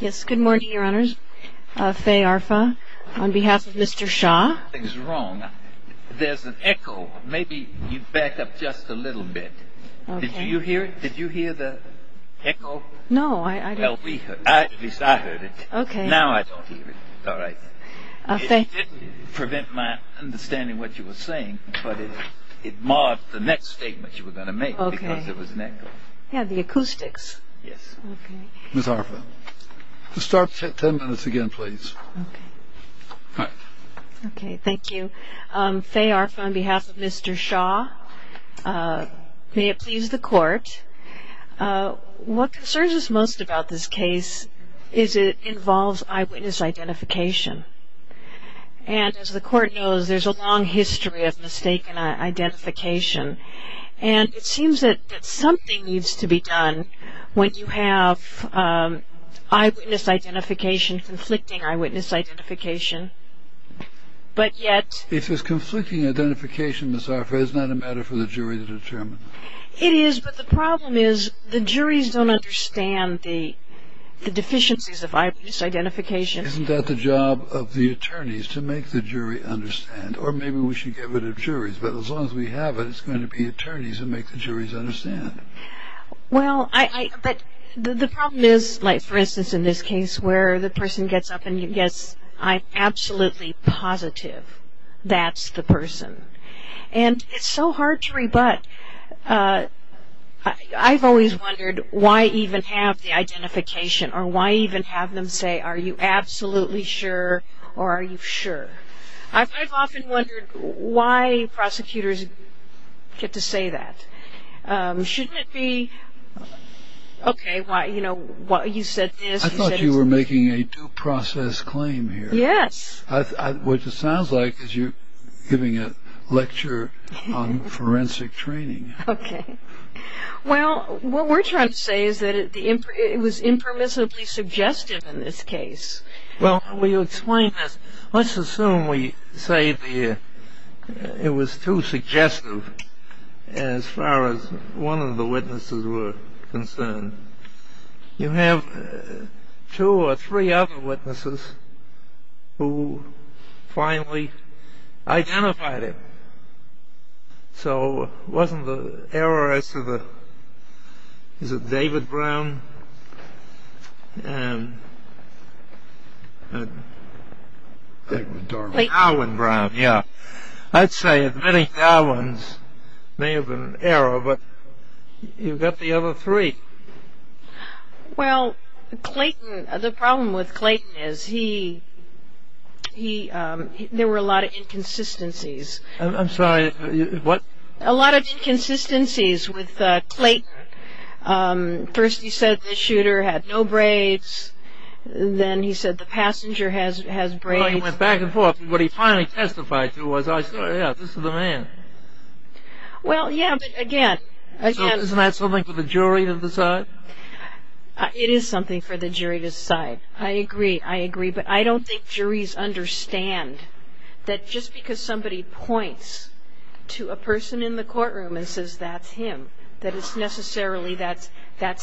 Yes, good morning, Your Honors. Faye Arfa on behalf of Mr. Shaw. There's an echo. Maybe you back up just a little bit. Did you hear it? Did you hear the echo? No. Well, at least I heard it. Now I don't hear it. It didn't prevent my understanding what you were saying, but it marred the next statement you were going to make because there was an echo. Yeah, the acoustics. Yes. Ms. Arfa. Start ten minutes again, please. Okay. All right. Okay, thank you. Faye Arfa on behalf of Mr. Shaw. May it please the Court. What concerns us most about this case is it involves eyewitness identification. And as the Court knows, there's a long history of mistaken identification. And it seems that something needs to be done when you have eyewitness identification, conflicting eyewitness identification, but yet If it's conflicting identification, Ms. Arfa, it's not a matter for the jury to determine. It is, but the problem is the juries don't understand the deficiencies of eyewitness identification. Isn't that the job of the attorneys, to make the jury understand? Or maybe we should give it to the juries. But as long as we have it, it's going to be attorneys who make the juries understand. Well, the problem is, like, for instance, in this case, where the person gets up and gets, I'm absolutely positive that's the person. And it's so hard to rebut. I've always wondered why even have the identification or why even have them say, Are you absolutely sure or are you sure? I've often wondered why prosecutors get to say that. Shouldn't it be, okay, you know, you said this. I thought you were making a due process claim here. Yes. Which it sounds like as you're giving a lecture on forensic training. Okay. Well, what we're trying to say is that it was impermissibly suggestive in this case. Well, will you explain this? Let's assume we say it was too suggestive as far as one of the witnesses were concerned. You have two or three other witnesses who finally identified it. So wasn't the error as to the, is it David Brown and Darwin Brown? Yeah. I'd say many Darwin's may have been an error, but you've got the other three. Well, Clayton, the problem with Clayton is he, there were a lot of inconsistencies. I'm sorry, what? A lot of inconsistencies with Clayton. First he said the shooter had no braids. Then he said the passenger has braids. Well, he went back and forth. What he finally testified to was, yeah, this is the man. Well, yeah, but again, again. Isn't that something for the jury to decide? It is something for the jury to decide. I agree, I agree. But I don't think juries understand that just because somebody points to a person in the courtroom and says that's him, that it's necessarily that's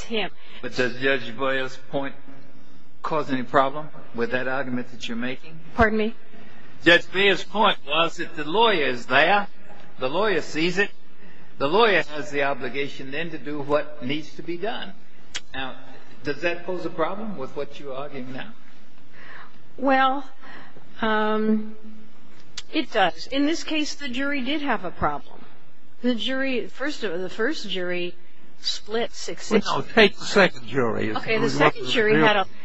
him. But does Judge Boyer's point cause any problem with that argument that you're making? Pardon me? Judge Boyer's point was that the lawyer is there. The lawyer sees it. Now, does that pose a problem with what you're arguing now? Well, it does. In this case, the jury did have a problem. The jury, the first jury split 6-6. Take the second jury. Okay, the second jury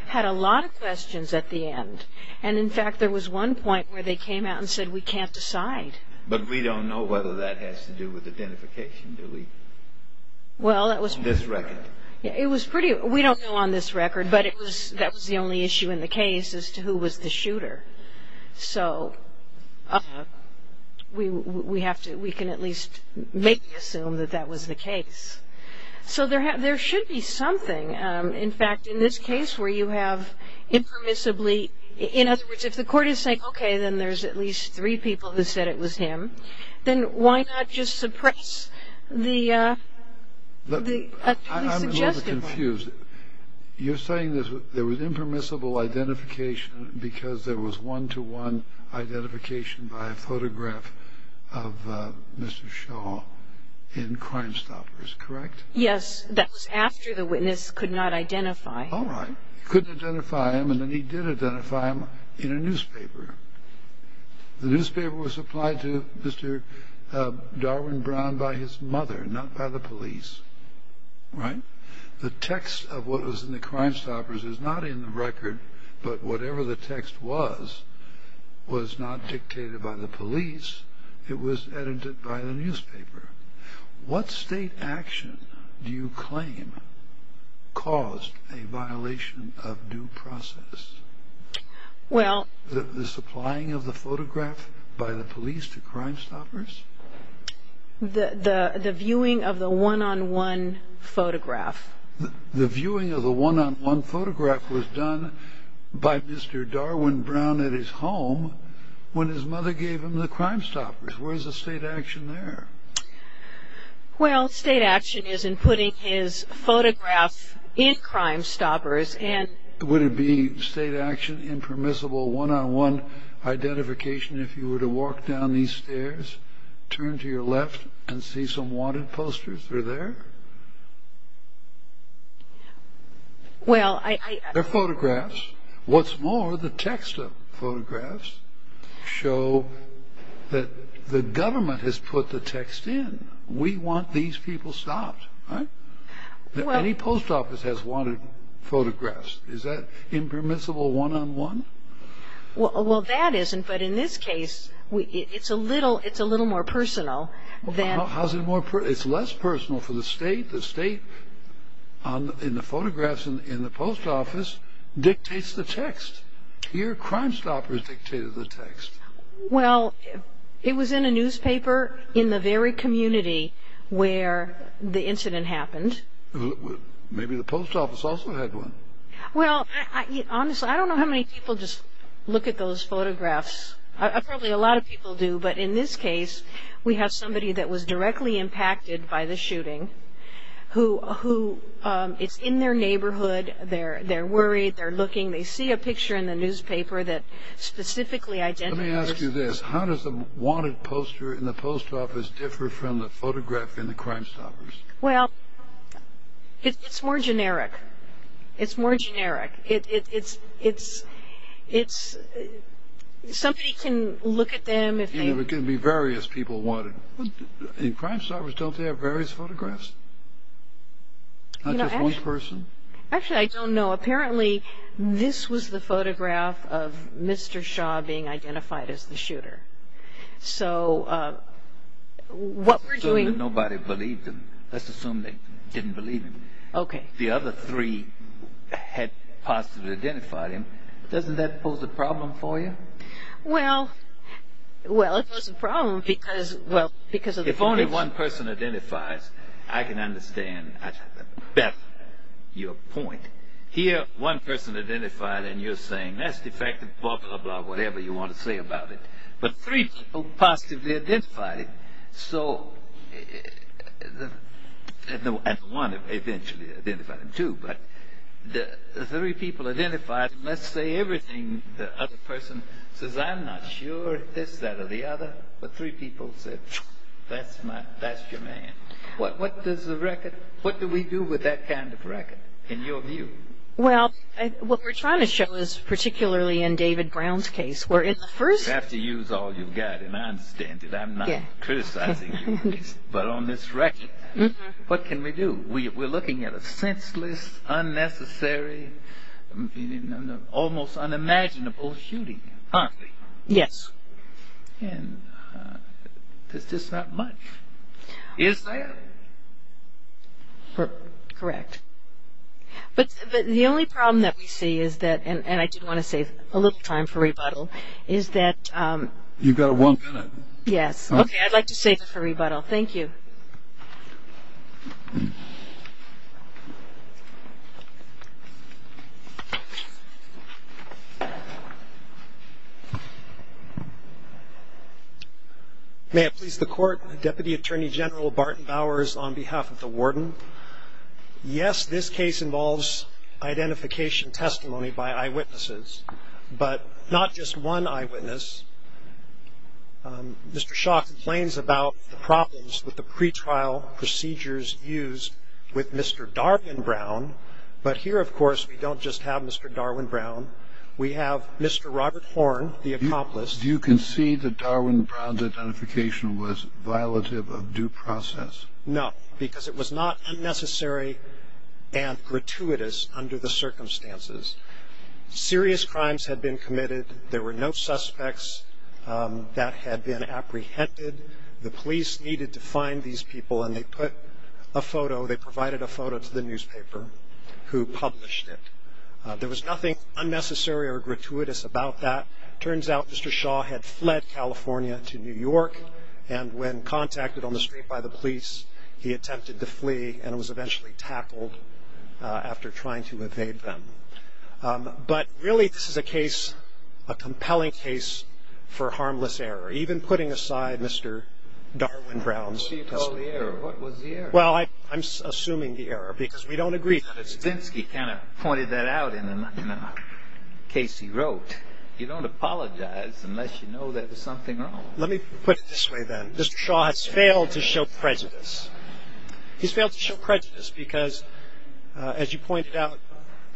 had a lot of questions at the end. And, in fact, there was one point where they came out and said we can't decide. But we don't know whether that has to do with identification, do we? This record. It was pretty, we don't know on this record, but that was the only issue in the case as to who was the shooter. So we have to, we can at least maybe assume that that was the case. So there should be something. In fact, in this case where you have impermissibly, in other words, if the court is saying, okay, then there's at least three people who said it was him, then why not just suppress the suggested one? I'm a little confused. You're saying there was impermissible identification because there was one-to-one identification by a photograph of Mr. Shaw in Crime Stoppers, correct? Yes, that was after the witness could not identify him. All right. He couldn't identify him, and then he did identify him in a newspaper. The newspaper was supplied to Mr. Darwin Brown by his mother, not by the police, right? The text of what was in the Crime Stoppers is not in the record, but whatever the text was was not dictated by the police. It was edited by the newspaper. What state action do you claim caused a violation of due process? Well— The supplying of the photograph by the police to Crime Stoppers? The viewing of the one-on-one photograph. The viewing of the one-on-one photograph was done by Mr. Darwin Brown at his home when his mother gave him the Crime Stoppers. Where is the state action there? Well, state action is in putting his photograph in Crime Stoppers and— Would it be state action, impermissible one-on-one identification if you were to walk down these stairs, turn to your left, and see some wanted posters through there? Well, I— They're photographs. What's more, the text of photographs show that the government has put the text in. We want these people stopped, right? Any post office has wanted photographs. Is that impermissible one-on-one? Well, that isn't, but in this case, it's a little more personal than— It's less personal for the state. The state, in the photographs in the post office, dictates the text. Here, Crime Stoppers dictated the text. Well, it was in a newspaper in the very community where the incident happened. Maybe the post office also had one. Well, honestly, I don't know how many people just look at those photographs. Probably a lot of people do, but in this case, we have somebody that was directly impacted by the shooting, who is in their neighborhood. They're worried. They're looking. They see a picture in the newspaper that specifically identifies— Let me ask you this. How does the wanted poster in the post office differ from the photograph in the Crime Stoppers? Well, it's more generic. It's more generic. It's—somebody can look at them if they— It can be various people wanted. In Crime Stoppers, don't they have various photographs? Not just one person? Actually, I don't know. Apparently, this was the photograph of Mr. Shaw being identified as the shooter. So what we're doing— Let's assume that nobody believed him. Let's assume they didn't believe him. Okay. The other three had positively identified him. Doesn't that pose a problem for you? Well, it poses a problem because— If only one person identifies, I can understand better your point. Here, one person identified, and you're saying, that's defective, blah, blah, blah, whatever you want to say about it. But three people positively identified him. So—and one eventually identified him, too. But the three people identified him. Let's say everything the other person says, I'm not sure it's this, that, or the other. But three people said, that's your man. What does the record—what do we do with that kind of record, in your view? Well, what we're trying to show is, particularly in David Brown's case, where in the first— You have to use all you've got, and I understand it. I'm not criticizing you, but on this record, what can we do? We're looking at a senseless, unnecessary, almost unimaginable shooting, aren't we? Yes. And there's just not much. Is there? Correct. But the only problem that we see is that—and I did want to save a little time for rebuttal—is that— You've got one minute. Yes. Okay, I'd like to save it for rebuttal. Thank you. May it please the Court, Deputy Attorney General Barton Bowers, on behalf of the warden. Yes, this case involves identification testimony by eyewitnesses, but not just one eyewitness. Mr. Shaw complains about the problems with the pretrial procedures used with Mr. Darwin Brown, but here, of course, we don't just have Mr. Darwin Brown. We have Mr. Robert Horn, the accomplice. Do you concede that Darwin Brown's identification was violative of due process? No, because it was not unnecessary and gratuitous under the circumstances. Serious crimes had been committed. There were no suspects that had been apprehended. The police needed to find these people, and they put a photo— they provided a photo to the newspaper who published it. There was nothing unnecessary or gratuitous about that. It turns out Mr. Shaw had fled California to New York, and when contacted on the street by the police, he attempted to flee, and was eventually tackled after trying to evade them. But really, this is a case—a compelling case for harmless error, even putting aside Mr. Darwin Brown's testimony. What do you call the error? What was the error? Well, I'm assuming the error, because we don't agree. Mr. Stensky kind of pointed that out in the case he wrote. You don't apologize unless you know there was something wrong. Let me put it this way, then. Mr. Shaw has failed to show prejudice. He's failed to show prejudice because, as you pointed out,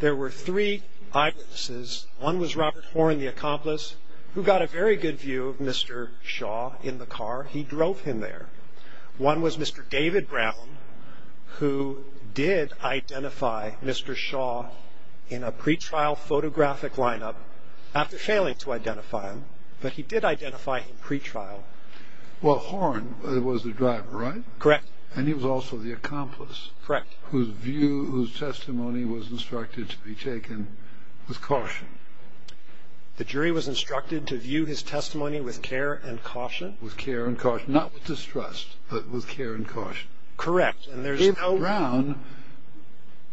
there were three eyewitnesses. One was Robert Horn, the accomplice, who got a very good view of Mr. Shaw in the car. He drove him there. One was Mr. David Brown, who did identify Mr. Shaw in a pre-trial photographic lineup, after failing to identify him, but he did identify him pre-trial. Well, Horn was the driver, right? Correct. And he was also the accomplice. Correct. Whose view, whose testimony was instructed to be taken with caution. The jury was instructed to view his testimony with care and caution. With care and caution. Not with distrust, but with care and caution. Correct. And David Brown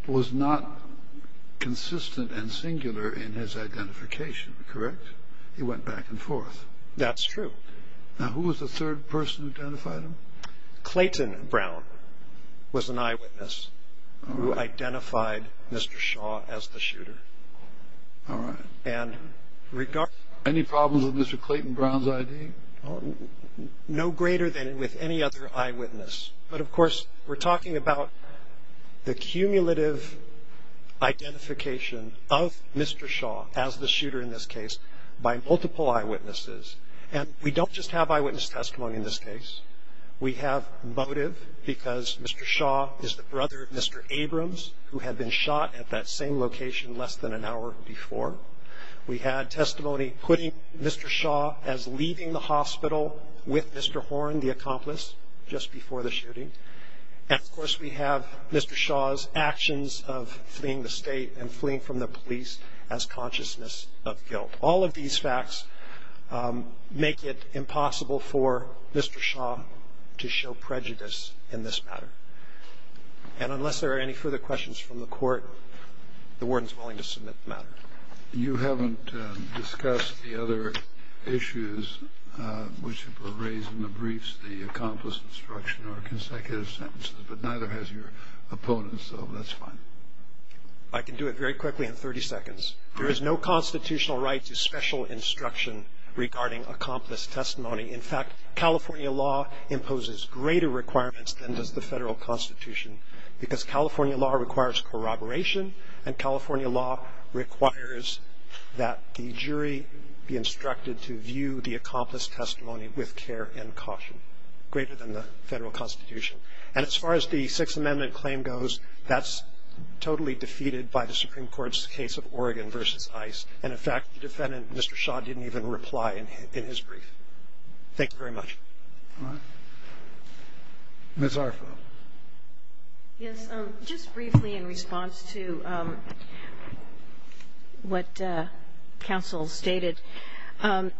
was not consistent and singular in his identification, correct? He went back and forth. That's true. Now, who was the third person who identified him? Clayton Brown was an eyewitness who identified Mr. Shaw as the shooter. All right. Any problems with Mr. Clayton Brown's ID? No greater than with any other eyewitness. But, of course, we're talking about the cumulative identification of Mr. Shaw, as the shooter in this case, by multiple eyewitnesses. And we don't just have eyewitness testimony in this case. We have motive because Mr. Shaw is the brother of Mr. Abrams, who had been shot at that same location less than an hour before. We had testimony putting Mr. Shaw as leaving the hospital with Mr. Horn, the accomplice, just before the shooting. And, of course, we have Mr. Shaw's actions of fleeing the state and fleeing from the police as consciousness of guilt. All of these facts make it impossible for Mr. Shaw to show prejudice in this matter. And unless there are any further questions from the court, the warden is willing to submit the matter. You haven't discussed the other issues which were raised in the briefs, the accomplice instruction or consecutive sentences, but neither has your opponent, so that's fine. I can do it very quickly in 30 seconds. There is no constitutional right to special instruction regarding accomplice testimony. In fact, California law imposes greater requirements than does the Federal Constitution because California law requires corroboration, and California law requires that the jury be instructed to view the accomplice testimony with care and caution, greater than the Federal Constitution. And as far as the Sixth Amendment claim goes, that's totally defeated by the Supreme Court's case of Oregon v. Ice. And, in fact, the defendant, Mr. Shaw, didn't even reply in his brief. Thank you very much. All right. Ms. Arfo. Yes. Just briefly in response to what counsel stated, there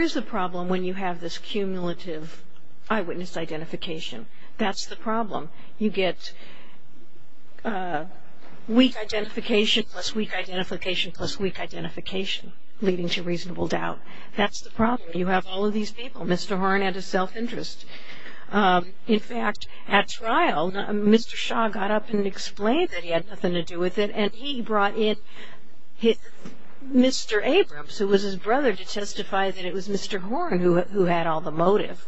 is a problem when you have this cumulative eyewitness identification. That's the problem. You get weak identification plus weak identification plus weak identification, leading to reasonable doubt. That's the problem. You have all of these people. Mr. Horne had a self-interest. In fact, at trial, Mr. Shaw got up and explained that he had nothing to do with it, and he brought in Mr. Abrams, who was his brother, to testify that it was Mr. Horne who had all the motive.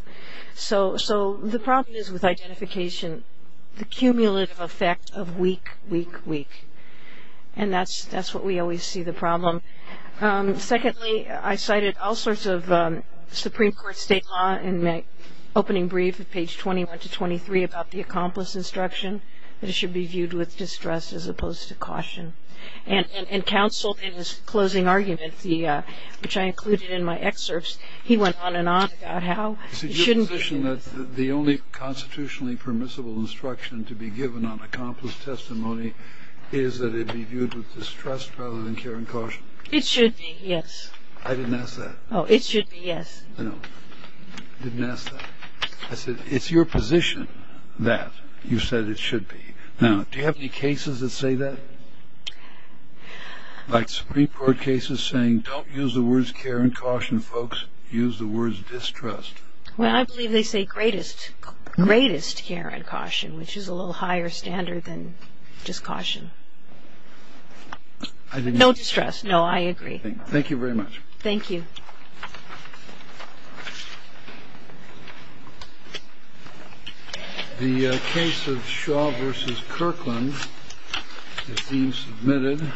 So the problem is with identification, the cumulative effect of weak, weak, weak. And that's what we always see the problem. Secondly, I cited all sorts of Supreme Court state law in my opening brief, at page 21 to 23, about the accomplice instruction, that it should be viewed with distress as opposed to caution. And counsel, in his closing argument, which I included in my excerpts, he went on and on about how it shouldn't be viewed. Is it your position that the only constitutionally permissible instruction to be given on accomplice testimony is that it be viewed with distrust rather than care and caution? It should be, yes. I didn't ask that. Oh, it should be, yes. No, I didn't ask that. I said, it's your position that you said it should be. Now, do you have any cases that say that? Like Supreme Court cases saying, don't use the words care and caution, folks. Use the words distrust. Well, I believe they say greatest care and caution, which is a little higher standard than just caution. No distrust. No, I agree. Thank you very much. Thank you. The case of Shaw v. Kirkland is being submitted.